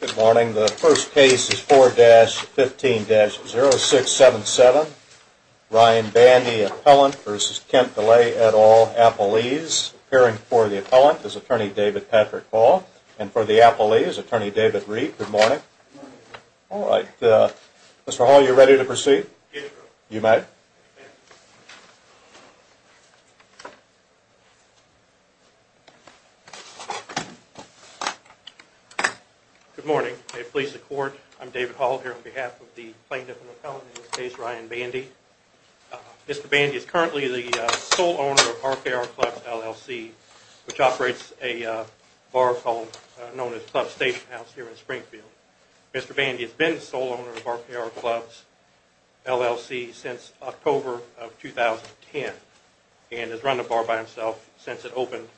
Good morning. The first case is 4-15-0677. Ryan Bandy, appellant, v. Kent Delay, et al., appellees. Appearing for the appellant is attorney David Patrick Hall. And for the appellees, attorney David Reed. Good morning. Good morning. All right. Mr. Hall, are you ready to proceed? Yes, sir. You may. Good morning. May it please the court, I'm David Hall here on behalf of the plaintiff and appellant in this case, Ryan Bandy. Mr. Bandy is currently the sole owner of RPR Clubs, LLC, which operates a bar called, known as Club Station House here in Springfield. Mr. Bandy has been the sole owner of RPR Clubs, LLC, since October of 2010. And has run the bar by himself since it opened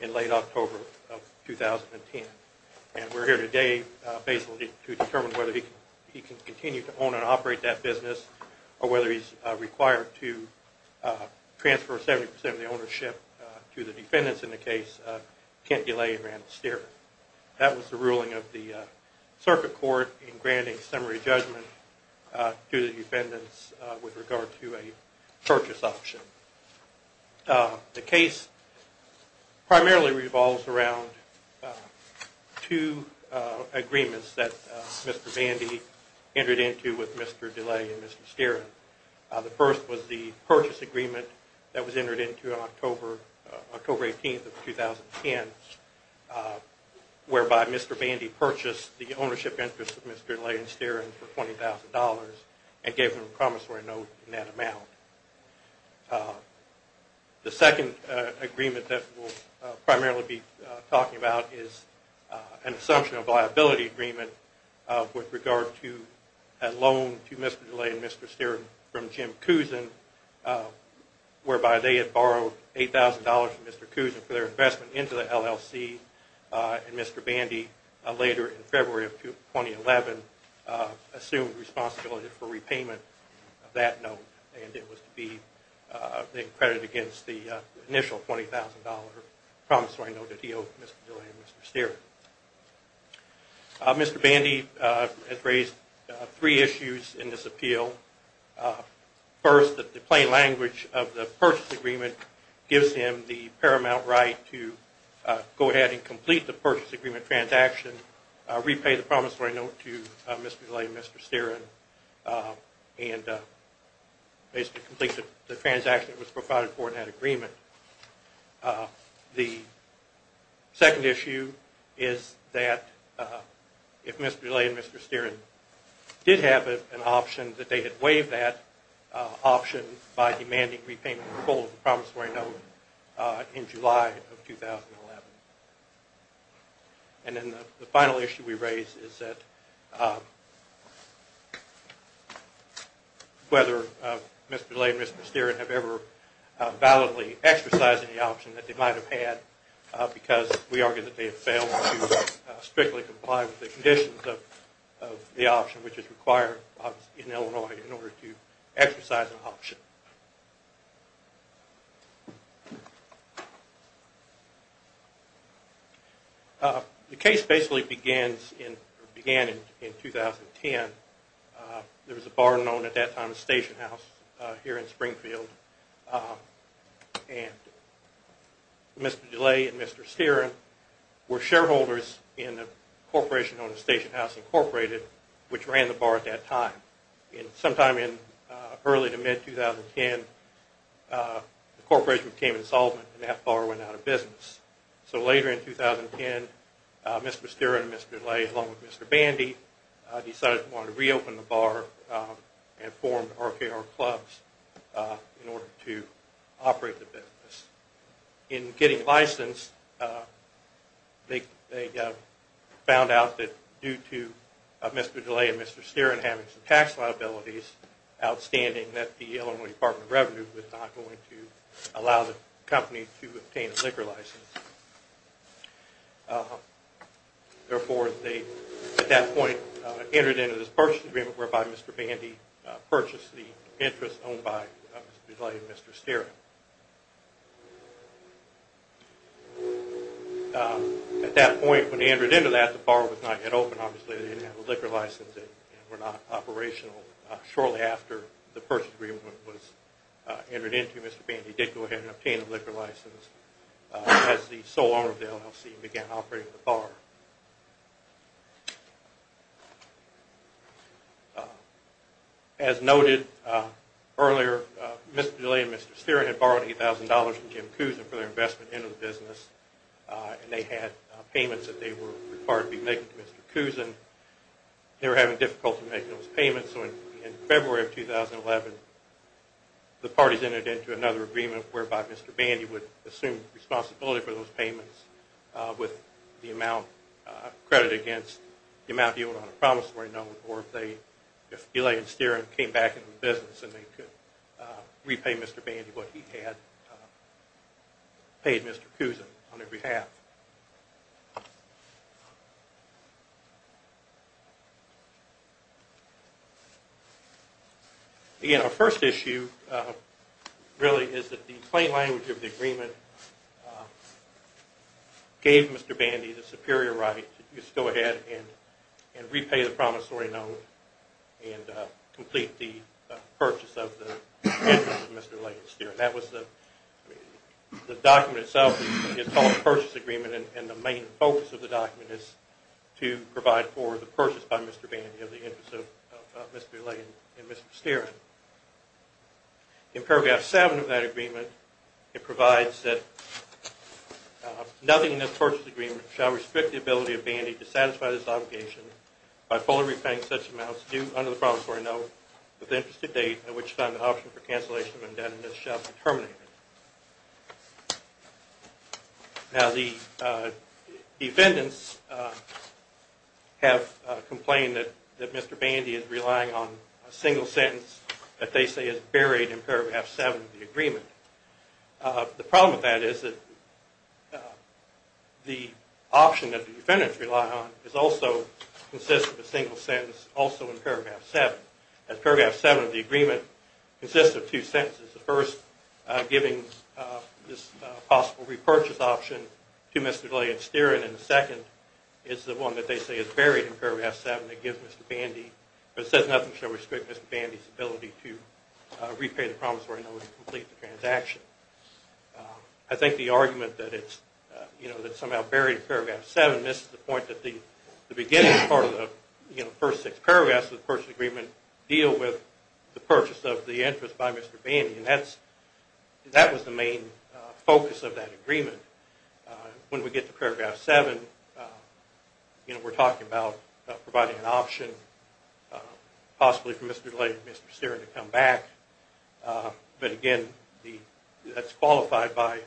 in late October of 2010. And we're here today basically to determine whether he can continue to own and operate that business, or whether he's required to transfer 70% of the ownership to the defendants in the case, Kent Delay and Rand Steren. That was the ruling of the circuit court in granting summary judgment to the defendants with regard to a purchase option. The case primarily revolves around two agreements that Mr. Bandy entered into with Mr. Delay and Mr. Steren. The first was the purchase agreement that was entered into October 18th of 2010, whereby Mr. Bandy purchased the ownership interest of Mr. Delay and Steren for $20,000 and gave them a promissory note in that amount. The second agreement that we'll primarily be talking about is an assumption of liability agreement with regard to a loan to Mr. Delay and Mr. Steren from Jim Cousin, whereby they had borrowed $8,000 from Mr. Cousin for their investment into the LLC. And Mr. Bandy, later in February of 2011, assumed responsibility for repayment of that note. And it was to be credited against the initial $20,000 promissory note that he owed Mr. Delay and Mr. Steren. Mr. Bandy has raised three issues in this appeal. First, the plain language of the purchase agreement gives him the paramount right to go ahead and complete the purchase agreement transaction, repay the promissory note to Mr. Delay and Mr. Steren, and basically complete the transaction that was provided for in that agreement. The second issue is that if Mr. Delay and Mr. Steren did have an option, that they had waived that option by demanding repayment in full of the whether Mr. Delay and Mr. Steren have ever validly exercised any option that they might have had, because we argue that they have failed to strictly comply with the conditions of the option which is required in Illinois in order to exercise an option. The case basically began in 2010. There was a bar known at that time as Station House here in Springfield, and Mr. Delay and Mr. Steren, along with Mr. Bandy, decided they wanted to reopen the bar and form RKR Clubs in order to operate the business. In getting licensed, they found out that due to Mr. Delay and Mr. Steren having some tax liabilities outstanding that the Illinois Corporation for Illinois Department of Revenue was not going to allow the company to obtain a liquor license. Therefore, they at that point entered into this purchase agreement whereby Mr. Bandy purchased the interest owned by Mr. Delay and Mr. Steren. At that point, when they entered into that, the bar was not yet open. Obviously, they didn't have a liquor license and were not operational. Shortly after the purchase agreement was entered into, Mr. Bandy did go ahead and obtain a liquor license as the sole owner of the LLC began operating the bar. As noted earlier, Mr. Delay and Mr. Steren had borrowed $8,000 from Jim Cousin for their investment into the business, and they had payments that they were required to be making to Mr. Cousin. They were having difficulty making those payments, so in February of 2011, the parties entered into another agreement whereby Mr. Bandy would assume responsibility for those payments with the amount credited against the amount he owed on a promissory note, or if Mr. Bandy what he had paid Mr. Cousin on behalf. Again, our first issue really is that the plain language of the agreement gave Mr. Bandy the superior right to go ahead and repay the promissory note and complete the purchase of the interest of Mr. Delay and Mr. Steren. The document itself is called the Purchase Agreement, and the main focus of the document is to provide for the purchase by Mr. Bandy of the interest of Mr. Delay and Mr. Steren. In paragraph 7 of that agreement, it provides that nothing in this Purchase Agreement shall restrict the ability of Bandy to satisfy this obligation by fully repaying such amounts due under the promissory note with interest to date at which time the option for cancellation of indebtedness shall be terminated. Now the defendants have complained that Mr. Bandy is relying on a single sentence that they say is buried in paragraph 7 of the agreement. The problem with that is that the option that the defendants rely on also consists of a single sentence also in paragraph 7. As paragraph 7 of the agreement consists of two sentences, the first giving this possible repurchase option to Mr. Delay and Mr. Steren, and the second is the one that they say is buried in paragraph 7 that says nothing shall restrict Mr. Bandy's ability to repay the promissory note and complete the transaction. I think the argument that it's somehow buried in paragraph 7 misses the point that the beginning part of the first six paragraphs of the Purchase Agreement deal with the purchase of the interest by Mr. Bandy, and that was the main focus of that agreement. When we get to paragraph 7, we're talking about providing an option possibly for Mr. Delay and Mr. Steren to come back. But again, that's qualified by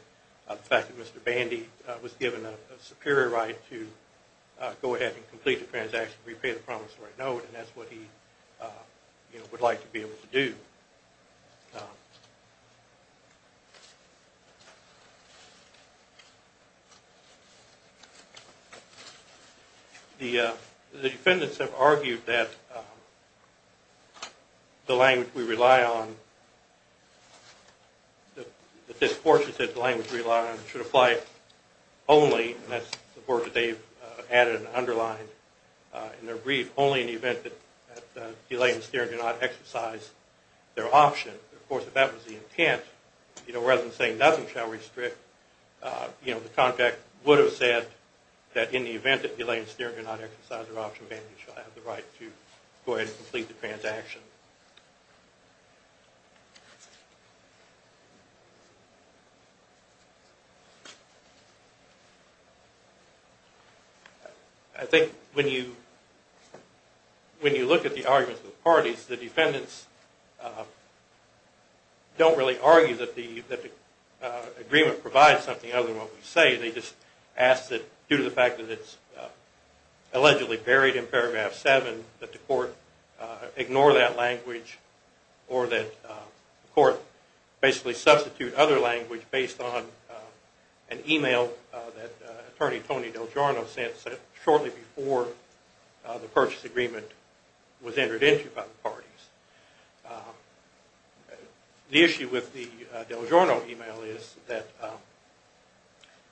the fact that Mr. Bandy was given a superior right to go ahead and complete the transaction, repay the promissory note, and that's what he would like to be able to do. The defendants have argued that the language we rely on, that this portion of the language we rely on should apply only, and that's the part that they've added and underlined in their brief, only in the event that Delay and Steren do not exercise their option. Of course, if that was the intent, rather than saying nothing shall restrict, the contract would have said that in the event that Delay and Steren do not exercise their option, Mr. Bandy shall have the right to go ahead and complete the transaction. I think when you look at the arguments of the parties, the defendants don't really argue that the agreement provides something other than what we say. They just ask that due to the fact that it's allegedly buried in paragraph 7, that the court ignore that language or that the court basically substitute other language based on an email that Attorney Tony Delgiorno sent shortly before the purchase agreement was entered into by the parties. The issue with the Delgiorno email is that,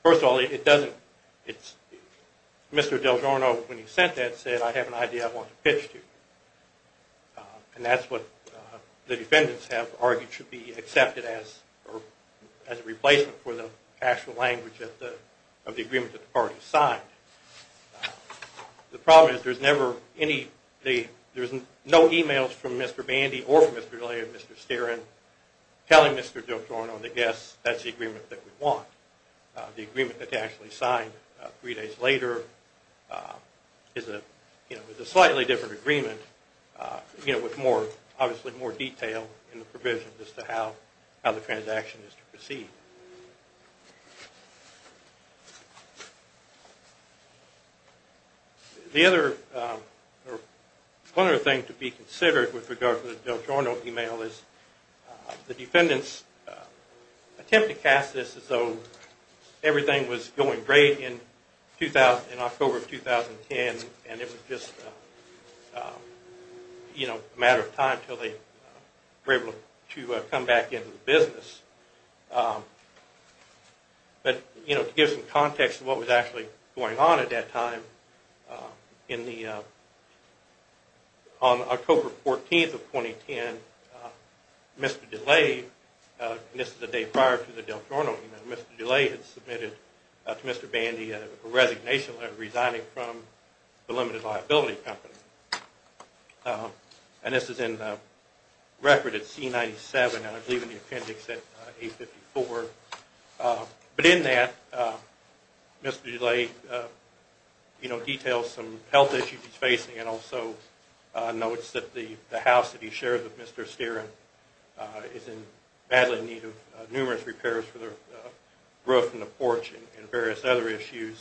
first of all, Mr. Delgiorno, when he sent that, said I have an idea I want to pitch to you. And that's what the defendants have argued should be accepted as a replacement for the actual language of the agreement that the parties signed. The problem is there's no emails from Mr. Bandy or from Mr. Delay or Mr. Steren telling Mr. Delgiorno that yes, that's the agreement that we want. The agreement that they actually signed three days later is a slightly different agreement with obviously more detail in the provision as to how the transaction is to proceed. One other thing to be considered with regard to the Delgiorno email is the defendants attempted to cast this as though everything was going great in October of 2010 and it was just a matter of time until they were able to come back into business. But to give some context of what was actually going on at that time, on October 14th of 2010, Mr. Delay, and this is the day prior to the Delgiorno email, Mr. Delay had submitted to Mr. Bandy a resignation letter resigning from the Limited Liability Company. And this is in the record at C-97 and I believe in the appendix at A-54. But in that, Mr. Delay, you know, details some health issues he's facing and also notes that the house that he shares with Mr. Steren is in badly in need of numerous repairs for the roof and the porch and various other issues.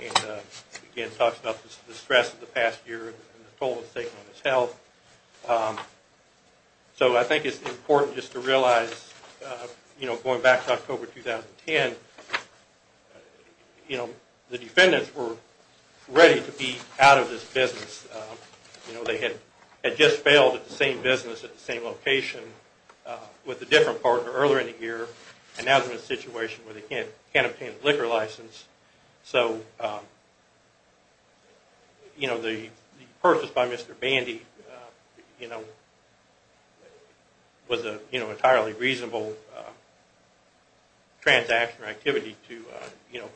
And again, talks about the stress of the past year and the toll it's taken on his health. So I think it's important just to realize, you know, going back to October 2010, you know, the defendants were ready to be out of this business. You know, they had just failed at the same business at the same location with a different partner earlier in the year and now they're in a situation where they can't obtain a liquor license. So, you know, the purchase by Mr. Bandy, you know, was an entirely reasonable transaction or activity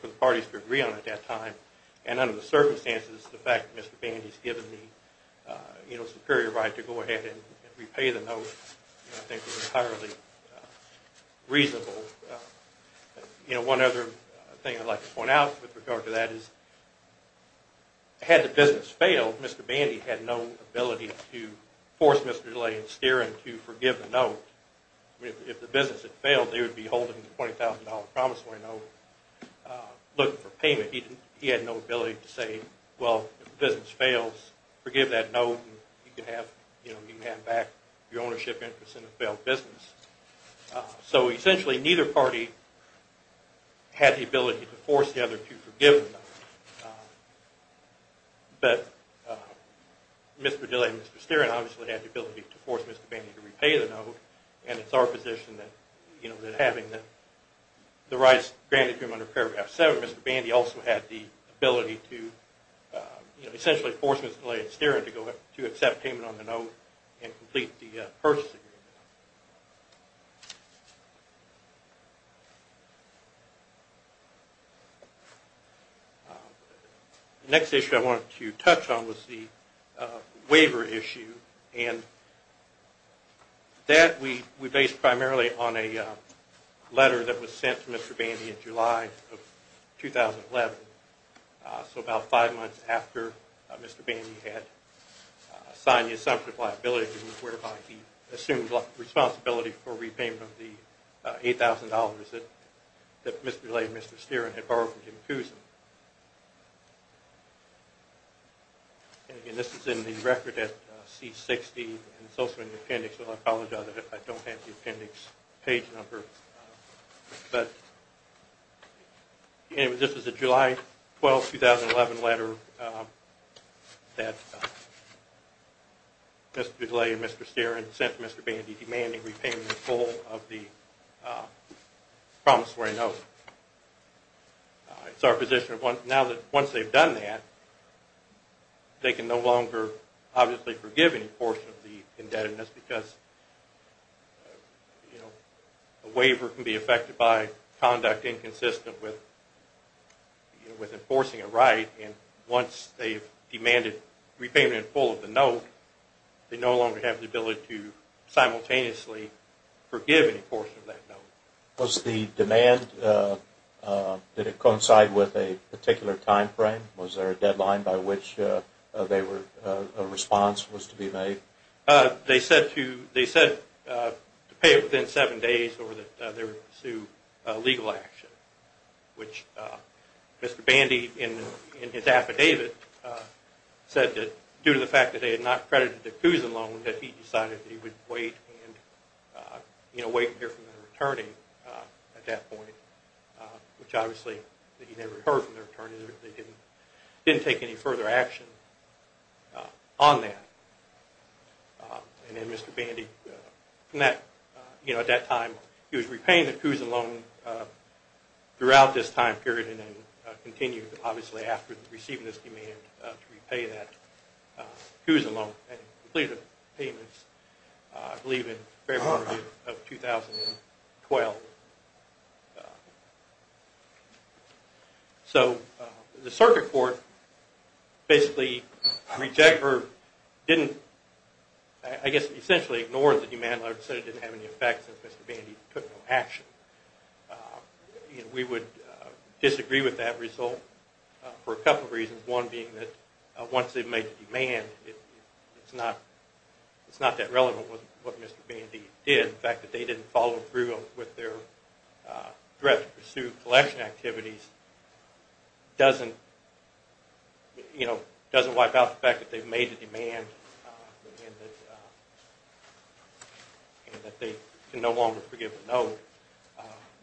for the parties to agree on at that time. And under the circumstances, the fact that Mr. Bandy has given me, you know, a superior right to go ahead and repay the note, I think is entirely reasonable. You know, one other thing I'd like to point out with regard to that is had the business failed, Mr. Bandy had no ability to force Mr. Delay and Steren to forgive the note. If the business had failed, they would be holding the $20,000 promissory note looking for payment. He had no ability to say, well, if the business fails, forgive that note and you can have, you know, you can have back your ownership interest in a failed business. So essentially neither party had the ability to force the other to forgive the note. But Mr. Delay and Mr. Steren obviously had the ability to force Mr. Bandy to repay the note and it's our position that, you know, that having the rights granted to him under Paragraph 7, Mr. Bandy also had the ability to, you know, essentially force Mr. Delay and Steren to accept payment on the note and complete the purchase agreement. The next issue I wanted to touch on was the waiver issue. And that we based primarily on a letter that was sent to Mr. Bandy in July of 2011. So about five months after Mr. Bandy had signed the assumption of liability, whereby he assumed responsibility for repayment of the $8,000 that Mr. Delay and Mr. Steren had borrowed from Jim Cousin. And this is in the record at C-60 and it's also in the appendix. I apologize if I don't have the appendix page number. But anyway, this is a July 12, 2011 letter that Mr. Delay and Mr. Steren sent to Mr. Bandy demanding repayment in full of the promissory note. It's our position now that once they've done that, they can no longer obviously forgive any portion of the indebtedness because a waiver can be affected by conduct inconsistent with enforcing a right. And once they've demanded repayment in full of the note, they no longer have the ability to simultaneously forgive any portion of that note. Was the demand, did it coincide with a particular time frame? Was there a deadline by which a response was to be made? They said to pay it within seven days or that they would pursue legal action, which Mr. Bandy in his affidavit said that due to the fact that they had not credited the Cousin loan, that he decided that he would wait and wait and hear from their attorney at that point, which obviously he never heard from their attorney. They didn't take any further action on that. And then Mr. Bandy, at that time, he was repaying the Cousin loan throughout this time period and then continued obviously after receiving this demand to repay that Cousin loan and completed the payments I believe in February of 2012. So the circuit court basically rejected or didn't, I guess essentially ignored the demand and said it didn't have any effect since Mr. Bandy took no action. We would disagree with that result for a couple of reasons. One being that once they've made the demand, it's not that relevant with what Mr. Bandy did. The fact that they didn't follow through with their threat to pursue collection activities doesn't wipe out the fact that they've made the demand and that they can no longer forgive the loan.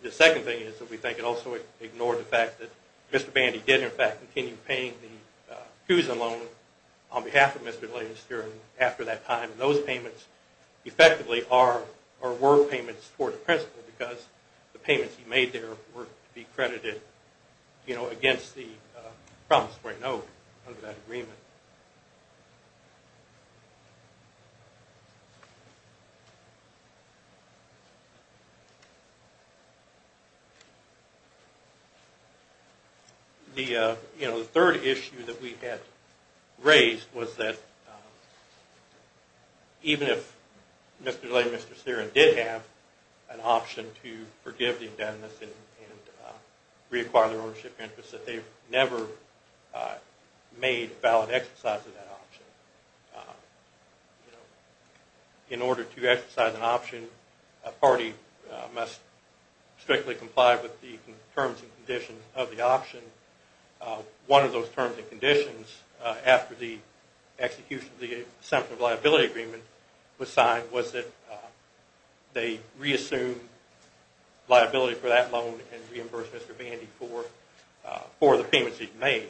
The second thing is that we think it also ignored the fact that Mr. Bandy did in fact continue paying the Cousin loan on behalf of Mr. Gladys after that time. And those payments effectively were payments toward the principal because the payments he made there were to be credited against the promise to write note under that agreement. The third issue that we had raised was that even if Mr. Gladys and Mr. Serin did have an option to forgive the indebtedness and reacquire their ownership interest, that they've never made valid exercise of that option. In order to exercise an option, a party must strictly comply with the terms and conditions of the option. One of those terms and conditions after the execution of the Assumption of Liability Agreement was signed was that they reassume liability for that loan and reimburse Mr. Bandy for the payments he'd made.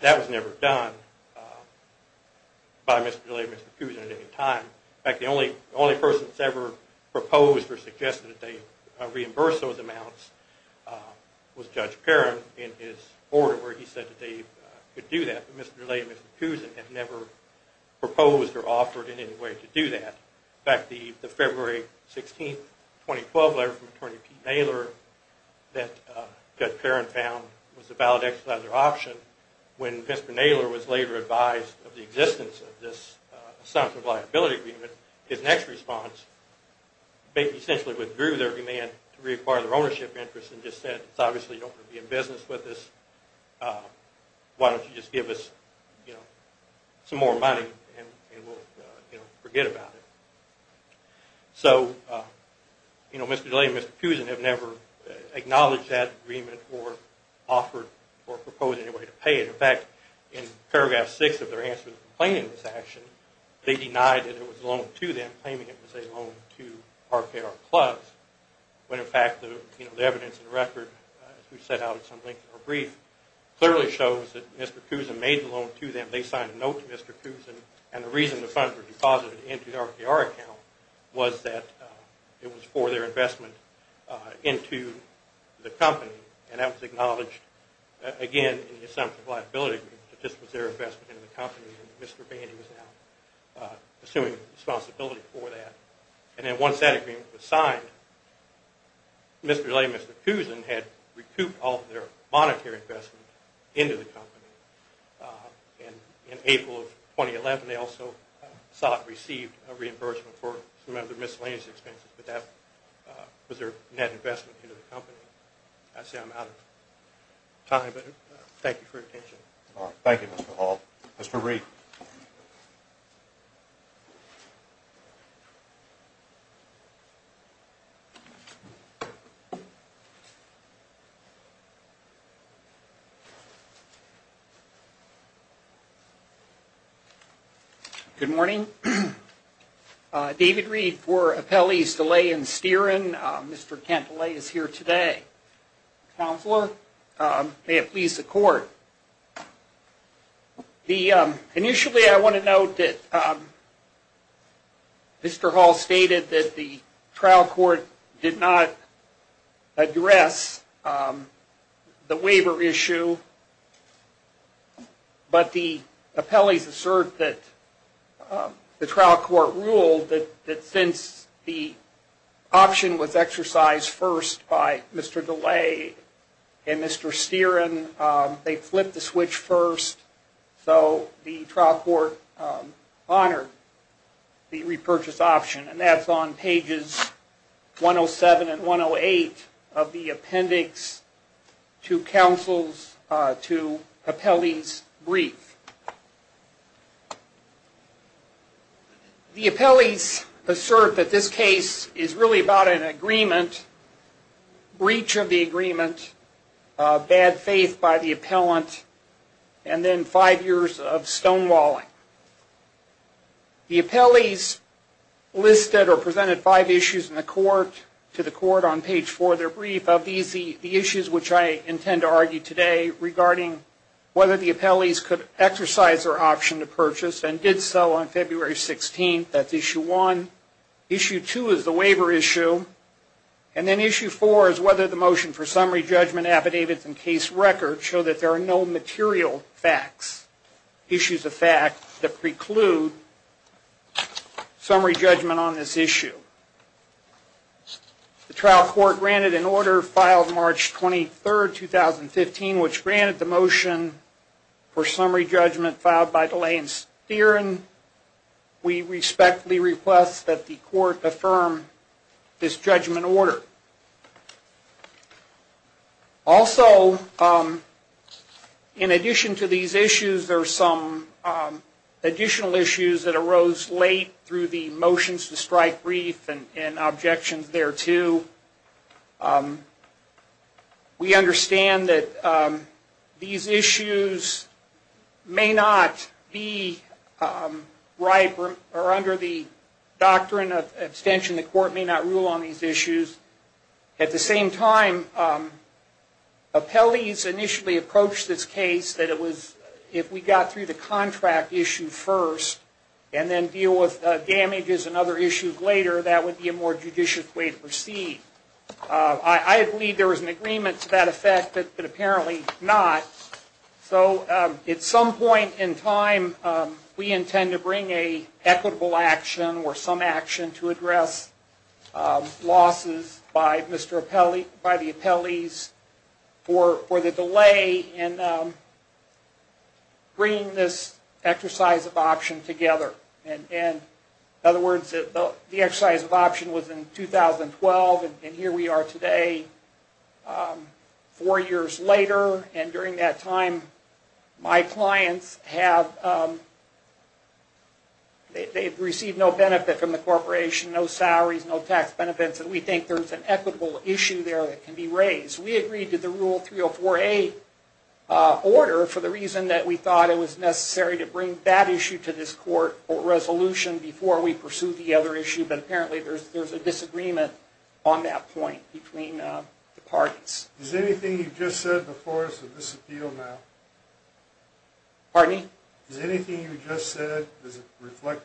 That was never done by Mr. Gladys and Mr. Cousin at any time. In fact, the only person that's ever proposed or suggested that they reimburse those amounts was Judge Perrin in his order where he said that they could do that. But Mr. Gladys and Mr. Cousin had never proposed or offered in any way to do that. In fact, the February 16, 2012 letter from Attorney Pete Naylor that Judge Perrin found was a valid exercise of their option, when Mr. Naylor was later advised of the existence of this Assumption of Liability Agreement, his next response essentially withdrew their demand to reacquire their ownership interest and just said, obviously you don't want to be in business with us, why don't you just give us some more money and we'll forget about it. So Mr. Gladys and Mr. Cousin have never acknowledged that agreement or offered or proposed in any way to pay it. In fact, in paragraph 6 of their answer to the complaint in this action, they denied that it was a loan to them claiming it was a loan to RKR Clubs, when in fact the evidence in the record, as we set out at some length in our brief, clearly shows that Mr. Cousin made the loan to them. They signed a note to Mr. Cousin and the reason the funds were deposited into the RKR account was that it was for their investment into the company and that was acknowledged again in the Assumption of Liability Agreement that this was their investment in the company and Mr. Bandy was now assuming responsibility for that. And then once that agreement was signed, Mr. Gladys and Mr. Cousin had recouped all of their monetary investment into the company. In April of 2011, they also sought and received a reimbursement for some of their miscellaneous expenses, but that was their net investment into the company. I say I'm out of time, but thank you for your attention. Thank you, Mr. Hall. Mr. Reed. Good morning. David Reed for Appellees DeLay and Steeran. Mr. Cantillay is here today. Counselor, may it please the Court. Initially, I want to note that Mr. Hall stated that the trial court did not address the waiver issue, but the appellees assert that the trial court ruled that since the option was exercised first by Mr. DeLay and Mr. Steeran, they flipped the switch first, so the trial court honored the repurchase option. And that's on pages 107 and 108 of the appendix to appellee's brief. The appellees assert that this case is really about an agreement, breach of the agreement, bad faith by the appellant, and then five years of stonewalling. The appellees listed or presented five issues to the court on page four of their brief. Of these, the issues which I intend to argue today regarding whether the appellees could exercise their option to purchase and did so on February 16th, that's issue one. Issue two is the waiver issue. And then issue four is whether the motion for summary judgment, affidavits, and case record show that there are no material facts, issues of fact, that preclude summary judgment on this issue. The trial court granted an order filed March 23rd, 2015, which granted the motion for summary judgment filed by DeLay and Steeran. We respectfully request that the court affirm this judgment order. Also, in addition to these issues, there are some additional issues that arose late through the motions to strike brief and objections thereto. We understand that these issues may not be under the doctrine of abstention. The court may not rule on these issues. At the same time, appellees initially approached this case that if we got through the contract issue first and then deal with damages and other issues later, that would be a more judicious way to proceed. I believe there was an agreement to that effect, but apparently not. At some point in time, we intend to bring an equitable action or some action to address losses by the appellees for the delay in bringing this exercise of option together. In other words, the exercise of option was in 2012, and here we are today, four years later. During that time, my clients have received no benefit from the corporation, no salaries, no tax benefits. We think there's an equitable issue there that can be raised. We agreed to the Rule 304A order for the reason that we thought it was necessary to bring that issue to this court or resolution before we pursued the other issue, but apparently there's a disagreement on that point between the parties. Is anything you just said before us of this appeal now? Pardon me? Is anything you just said, does it reflect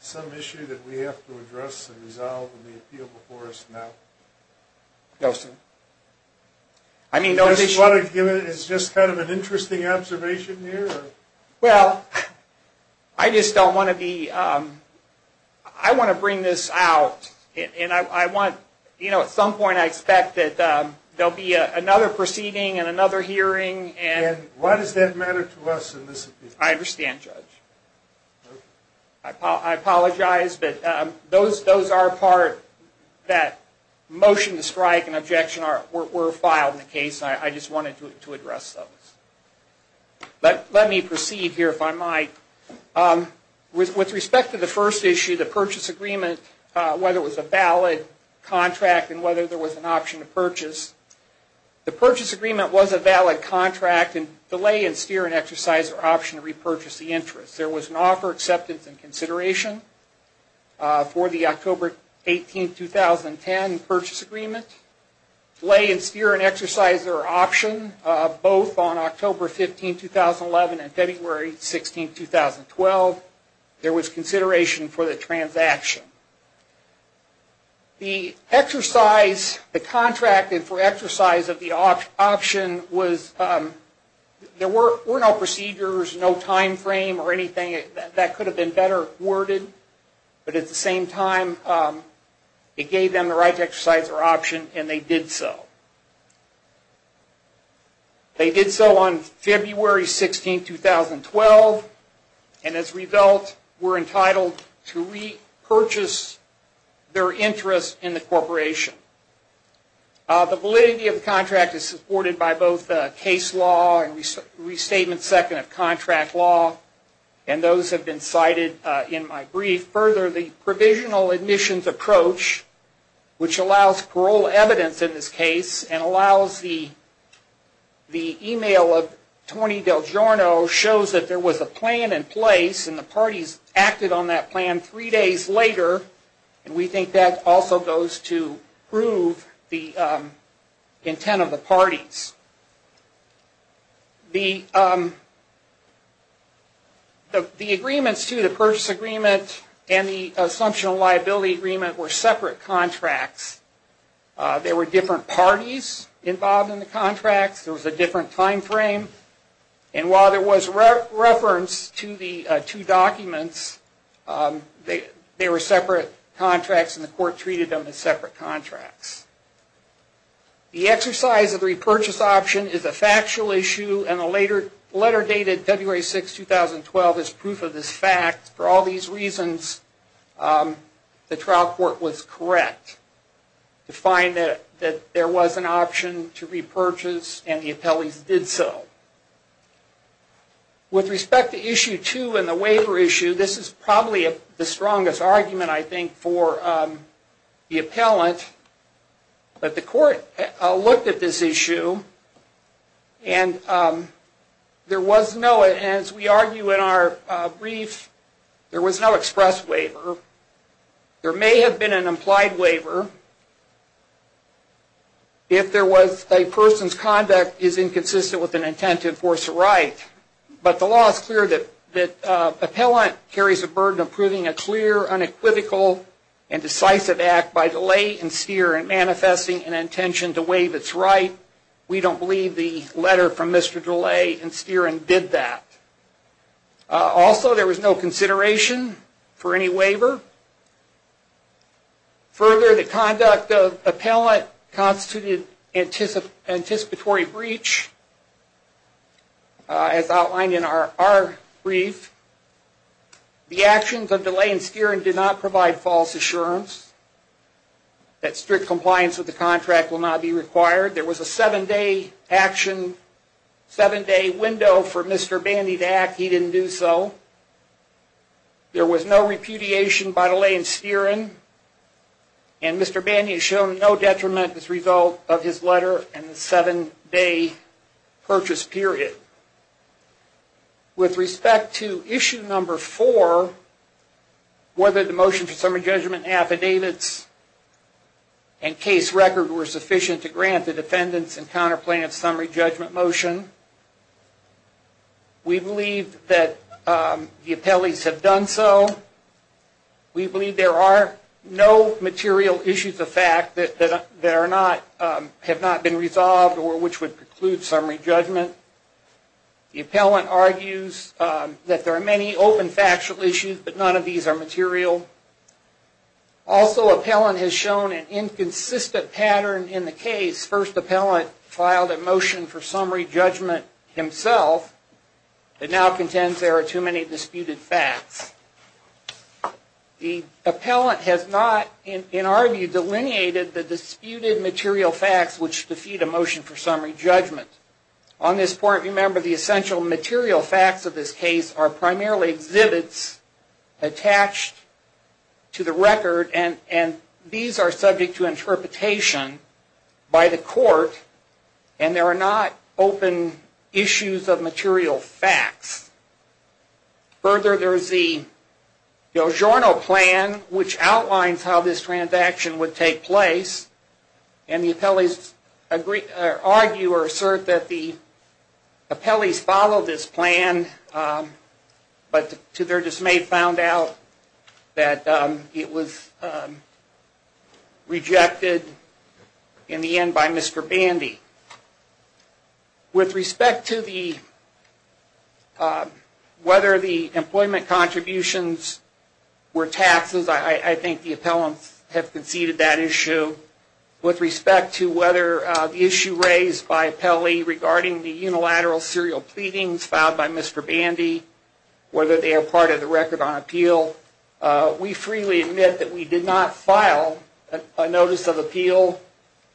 some issue that we have to address and resolve in the appeal before us now? No, sir. You just want to give it as just kind of an interesting observation here? Well, I just don't want to be, I want to bring this out, and I want, you know, at some point I expect that there will be another proceeding and another hearing. And why does that matter to us in this appeal? I understand, Judge. I apologize, but those are a part that motion to strike and objection were filed in the case. I just wanted to address those. Let me proceed here, if I might. With respect to the first issue, the purchase agreement, whether it was a valid contract and whether there was an option to purchase, the purchase agreement was a valid contract and delay and steer an exerciser option to repurchase the interest. There was an offer, acceptance, and consideration for the October 18, 2010 purchase agreement. Delay and steer an exerciser option, both on October 15, 2011 and February 16, 2012. There was consideration for the transaction. The exercise, the contract for exercise of the option was, there were no procedures, no time frame or anything. That could have been better worded. But at the same time, it gave them the right to exercise their option and they did so. They did so on February 16, 2012 and as a result were entitled to repurchase their interest in the corporation. The validity of the contract is supported by both case law and restatement second of contract law. Those have been cited in my brief. Further, the provisional admissions approach, which allows parole evidence in this case and allows the email of Tony DelGiorno shows that there was a plan in place and the parties acted on that plan three days later. We think that also goes to prove the intent of the parties. The agreements to the purchase agreement and the assumption of liability agreement were separate contracts. There were different parties involved in the contracts. There was a different time frame. And while there was reference to the two documents, they were separate contracts and the court treated them as separate contracts. The exercise of the repurchase option is a factual issue and the letter dated February 6, 2012 is proof of this fact. For all these reasons, the trial court was correct to find that there was an option to repurchase and the appellees did so. With respect to issue two and the waiver issue, this is probably the strongest argument, I think, for the appellant. But the court looked at this issue and there was no, as we argue in our brief, there was no express waiver. There may have been an implied waiver if a person's conduct is inconsistent with an intent to enforce a right. But the law is clear that an appellant carries the burden of proving a clear, unequivocal, and decisive act by delay and steer in manifesting an intention to waive its right. We don't believe the letter from Mr. Delay and Steering did that. Also, there was no consideration for any waiver. Further, the conduct of appellant constituted anticipatory breach, as outlined in our brief. The actions of Delay and Steering did not provide false assurance that strict compliance with the contract will not be required. There was a seven-day action, seven-day window for Mr. Bandy to act. He didn't do so. There was no repudiation by Delay and Steering. And Mr. Bandy has shown no detriment as a result of his letter and the seven-day purchase period. With respect to issue number four, whether the motion for summary judgment affidavits and case record were sufficient to grant the defendants and counter plaintiffs summary judgment motion, we believe that the appellees have done so. We believe there are no material issues of fact that have not been resolved or which would preclude summary judgment. The appellant argues that there are many open factual issues, but none of these are material. Also, appellant has shown an inconsistent pattern in the case. First, appellant filed a motion for summary judgment himself, but now contends there are too many disputed facts. The appellant has not, in our view, delineated the disputed material facts which defeat a motion for summary judgment. On this point, remember the essential material facts of this case are primarily exhibits attached to the record, and these are subject to interpretation by the court, and there are not open issues of material facts. Further, there is the Giorno plan which outlines how this transaction would take place, and the appellees argue or assert that the appellees followed this plan, but to their dismay found out that it was rejected in the end by Mr. Bandy. With respect to whether the employment contributions were taxes, I think the appellants have conceded that issue. With respect to whether the issue raised by appellee regarding the unilateral serial pleadings filed by Mr. Bandy, whether they are part of the record on appeal, we freely admit that we did not file a notice of appeal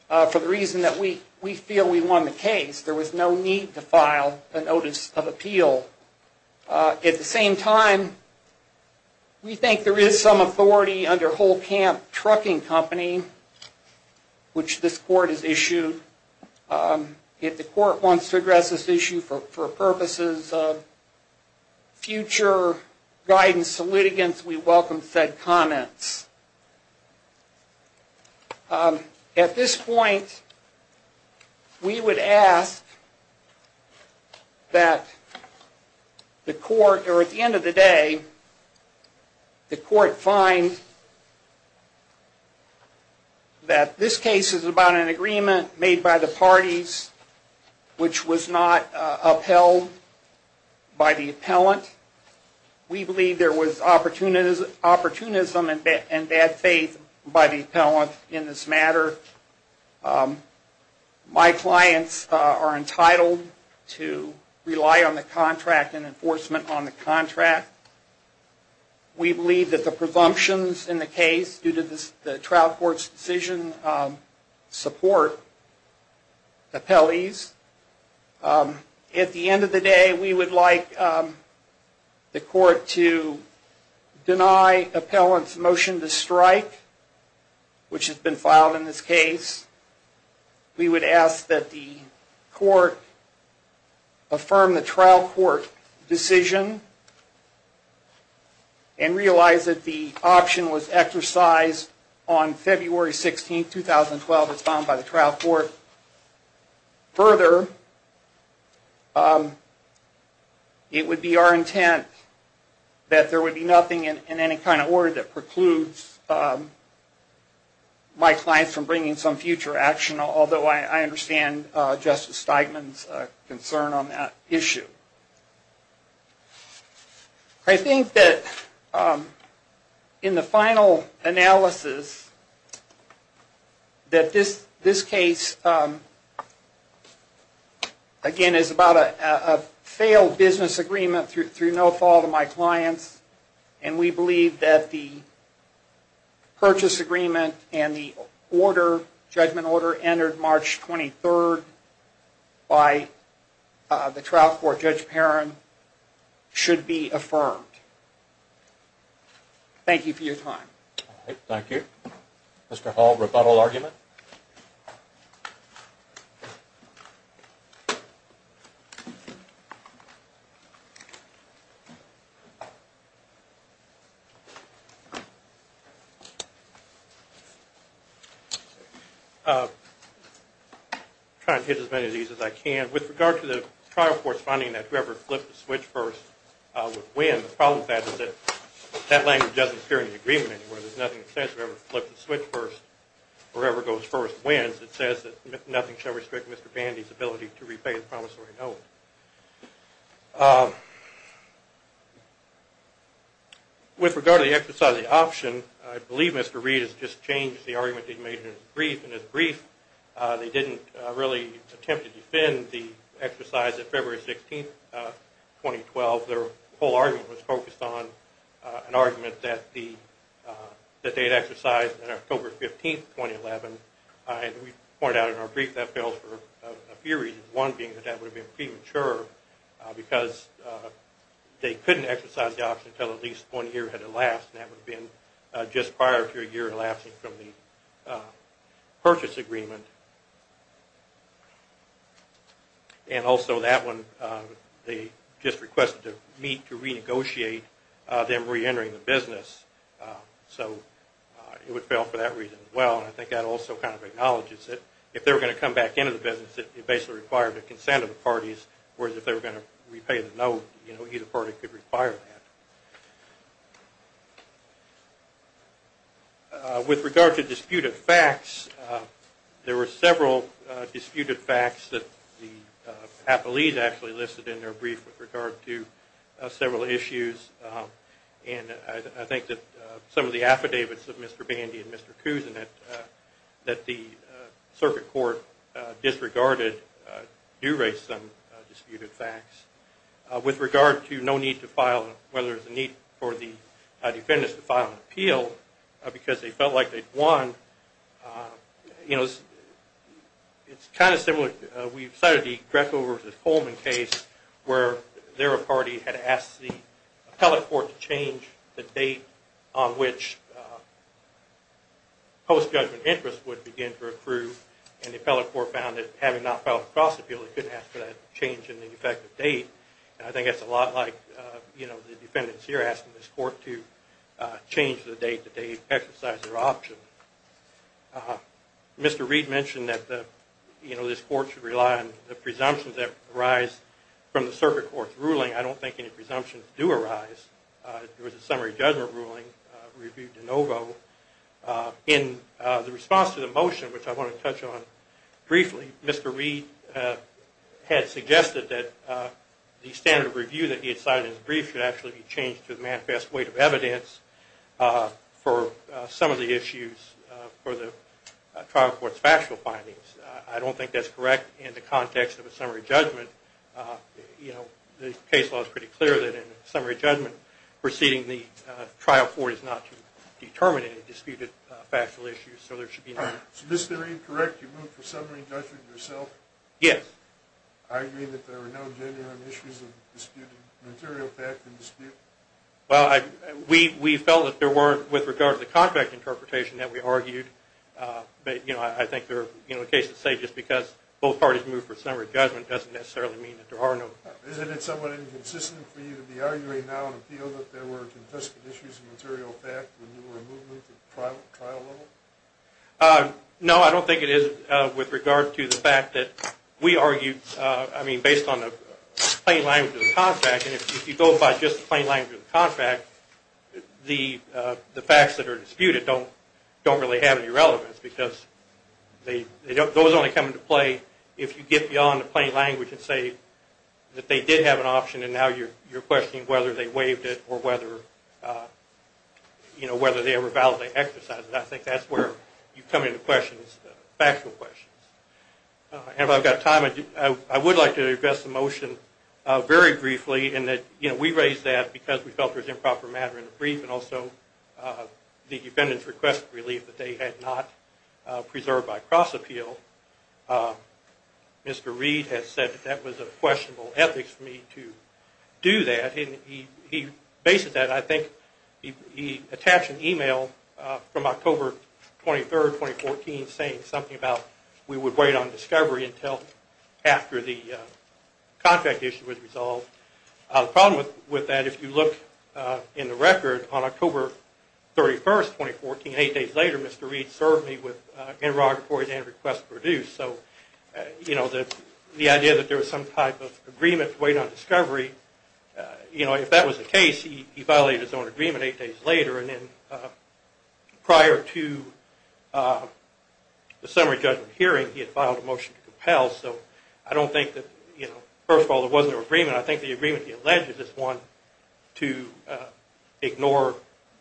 for the reason that we feel we won the case. There was no need to file a notice of appeal. At the same time, we think there is some authority under Holcamp Trucking Company, which this court has issued. If the court wants to address this issue for purposes of future guidance to litigants, we welcome said comments. At this point, we would ask that the court, or at the end of the day, the court find that this case is about an agreement made by the parties which was not upheld by the appellant. We believe there was opportunism and bad faith by the appellant in this matter. My clients are entitled to rely on the contract and enforcement on the contract. We believe that the presumptions in the case due to the trial court's decision support appellees. At the end of the day, we would like the court to deny appellant's motion to strike, which has been filed in this case. We would ask that the court affirm the trial court decision and realize that the option was exercised on February 16, 2012. It would be our intent that there would be nothing in any kind of order that precludes my clients from bringing some future action. Although I understand Justice Steigman's concern on that issue. I think that in the final analysis that this case, again, is about a failed business agreement through no fault of my clients. We believe that the purchase agreement and the judgment order entered March 23rd by the trial court Judge Perrin should be affirmed. Thank you for your time. Thank you. Mr. Hall, rebuttal argument. I'm trying to hit as many of these as I can. With regard to the trial court's finding that whoever flipped the switch first would win, the problem with that is that that language doesn't appear in the agreement anywhere. There's nothing that says whoever flipped the switch first or whoever goes first wins. It says that nothing shall restrict Mr. Bandy's ability to repay his promissory note. With regard to the exercise of the option, I believe Mr. Reed has just changed the argument that he made in his brief. In his brief, they didn't really attempt to defend the exercise of February 16, 2012. Their whole argument was focused on an argument that they had exercised on October 15, 2011. We pointed out in our brief that failed for a few reasons. One being that that would have been premature because they couldn't exercise the option until at least one year had elapsed. That would have been just prior to a year elapsing from the purchase agreement. Also, that one, they just requested to meet to renegotiate them reentering the business. It would fail for that reason as well. I think that also acknowledges that if they were going to come back into the business, it basically required the consent of the parties. Whereas, if they were going to repay the note, either party could require that. With regard to disputed facts, there were several disputed facts that Hapoliz actually listed in their brief with regard to several issues. I think that some of the affidavits of Mr. Bandy and Mr. Cousin that the circuit court disregarded do raise some disputed facts. With regard to whether there was a need for the defendants to file an appeal because they felt like they'd won, it's kind of similar. We've cited the Greco v. Coleman case where their party had asked the appellate court to change the date on which post-judgment interest would begin to approve. The appellate court found that having not filed a cross-appeal, they couldn't ask for that change in the effective date. I think that's a lot like the defendants here asking this court to change the date that they exercised their option. Mr. Reed mentioned that this court should rely on the presumptions that arise from the circuit court's ruling. I don't think any presumptions do arise. There was a summary judgment ruling reviewed in OVO. In the response to the motion, which I want to touch on briefly, Mr. Reed had suggested that the standard of review that he had cited in his brief should actually be changed to the manifest weight of evidence for some of the issues for the trial court's factual findings. I don't think that's correct in the context of a summary judgment. The case law is pretty clear that in a summary judgment, proceeding the trial court is not to determine any disputed factual issues. So Mr. Reed, correct, you moved for summary judgment yourself? Yes. Are you arguing that there are no genuine issues of disputed material fact and dispute? Well, we felt that there were with regard to the contract interpretation that we argued, but I think a case to say just because both parties moved for summary judgment doesn't necessarily mean that there are no. Isn't it somewhat inconsistent for you to be arguing now in appeal that there were confiscated issues of material fact when you were in movement at the trial level? No, I don't think it is with regard to the fact that we argued, I mean, based on the plain language of the contract, and if you go by just the plain language of the contract, the facts that are disputed don't really have any relevance because those only come into play if you get beyond the plain language and say that they did have an option and now you're questioning whether they waived it or whether they were valid exercises. I think that's where you come into questions, factual questions. If I've got time, I would like to address the motion very briefly in that we raised that because we felt there was improper matter in the brief and also the defendants requested relief that they had not preserved by cross-appeal. Mr. Reed has said that that was a questionable ethics for me to do that and he bases that, I think he attached an email from October 23, 2014 saying something about we would wait on discovery until after the contract issue was resolved. The problem with that, if you look in the record, on October 31, 2014, eight days later, Mr. Reed served me with interrogatories and requests produced. The idea that there was some type of agreement to wait on discovery, if that was the case, he violated his own agreement eight days later and then prior to the summary judgment hearing, he had filed a motion to compel. I think the agreement he alleged is one to ignore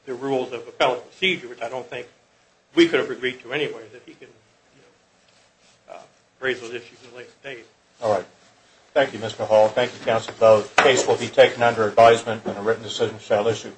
the rules of appellate procedure, which I don't think we could have agreed to anyway that he could raise those issues in the latest date. All right. Thank you, Mr. Hall. Thank you, counsel, both. The case will be taken under advisement and a written decision shall issue.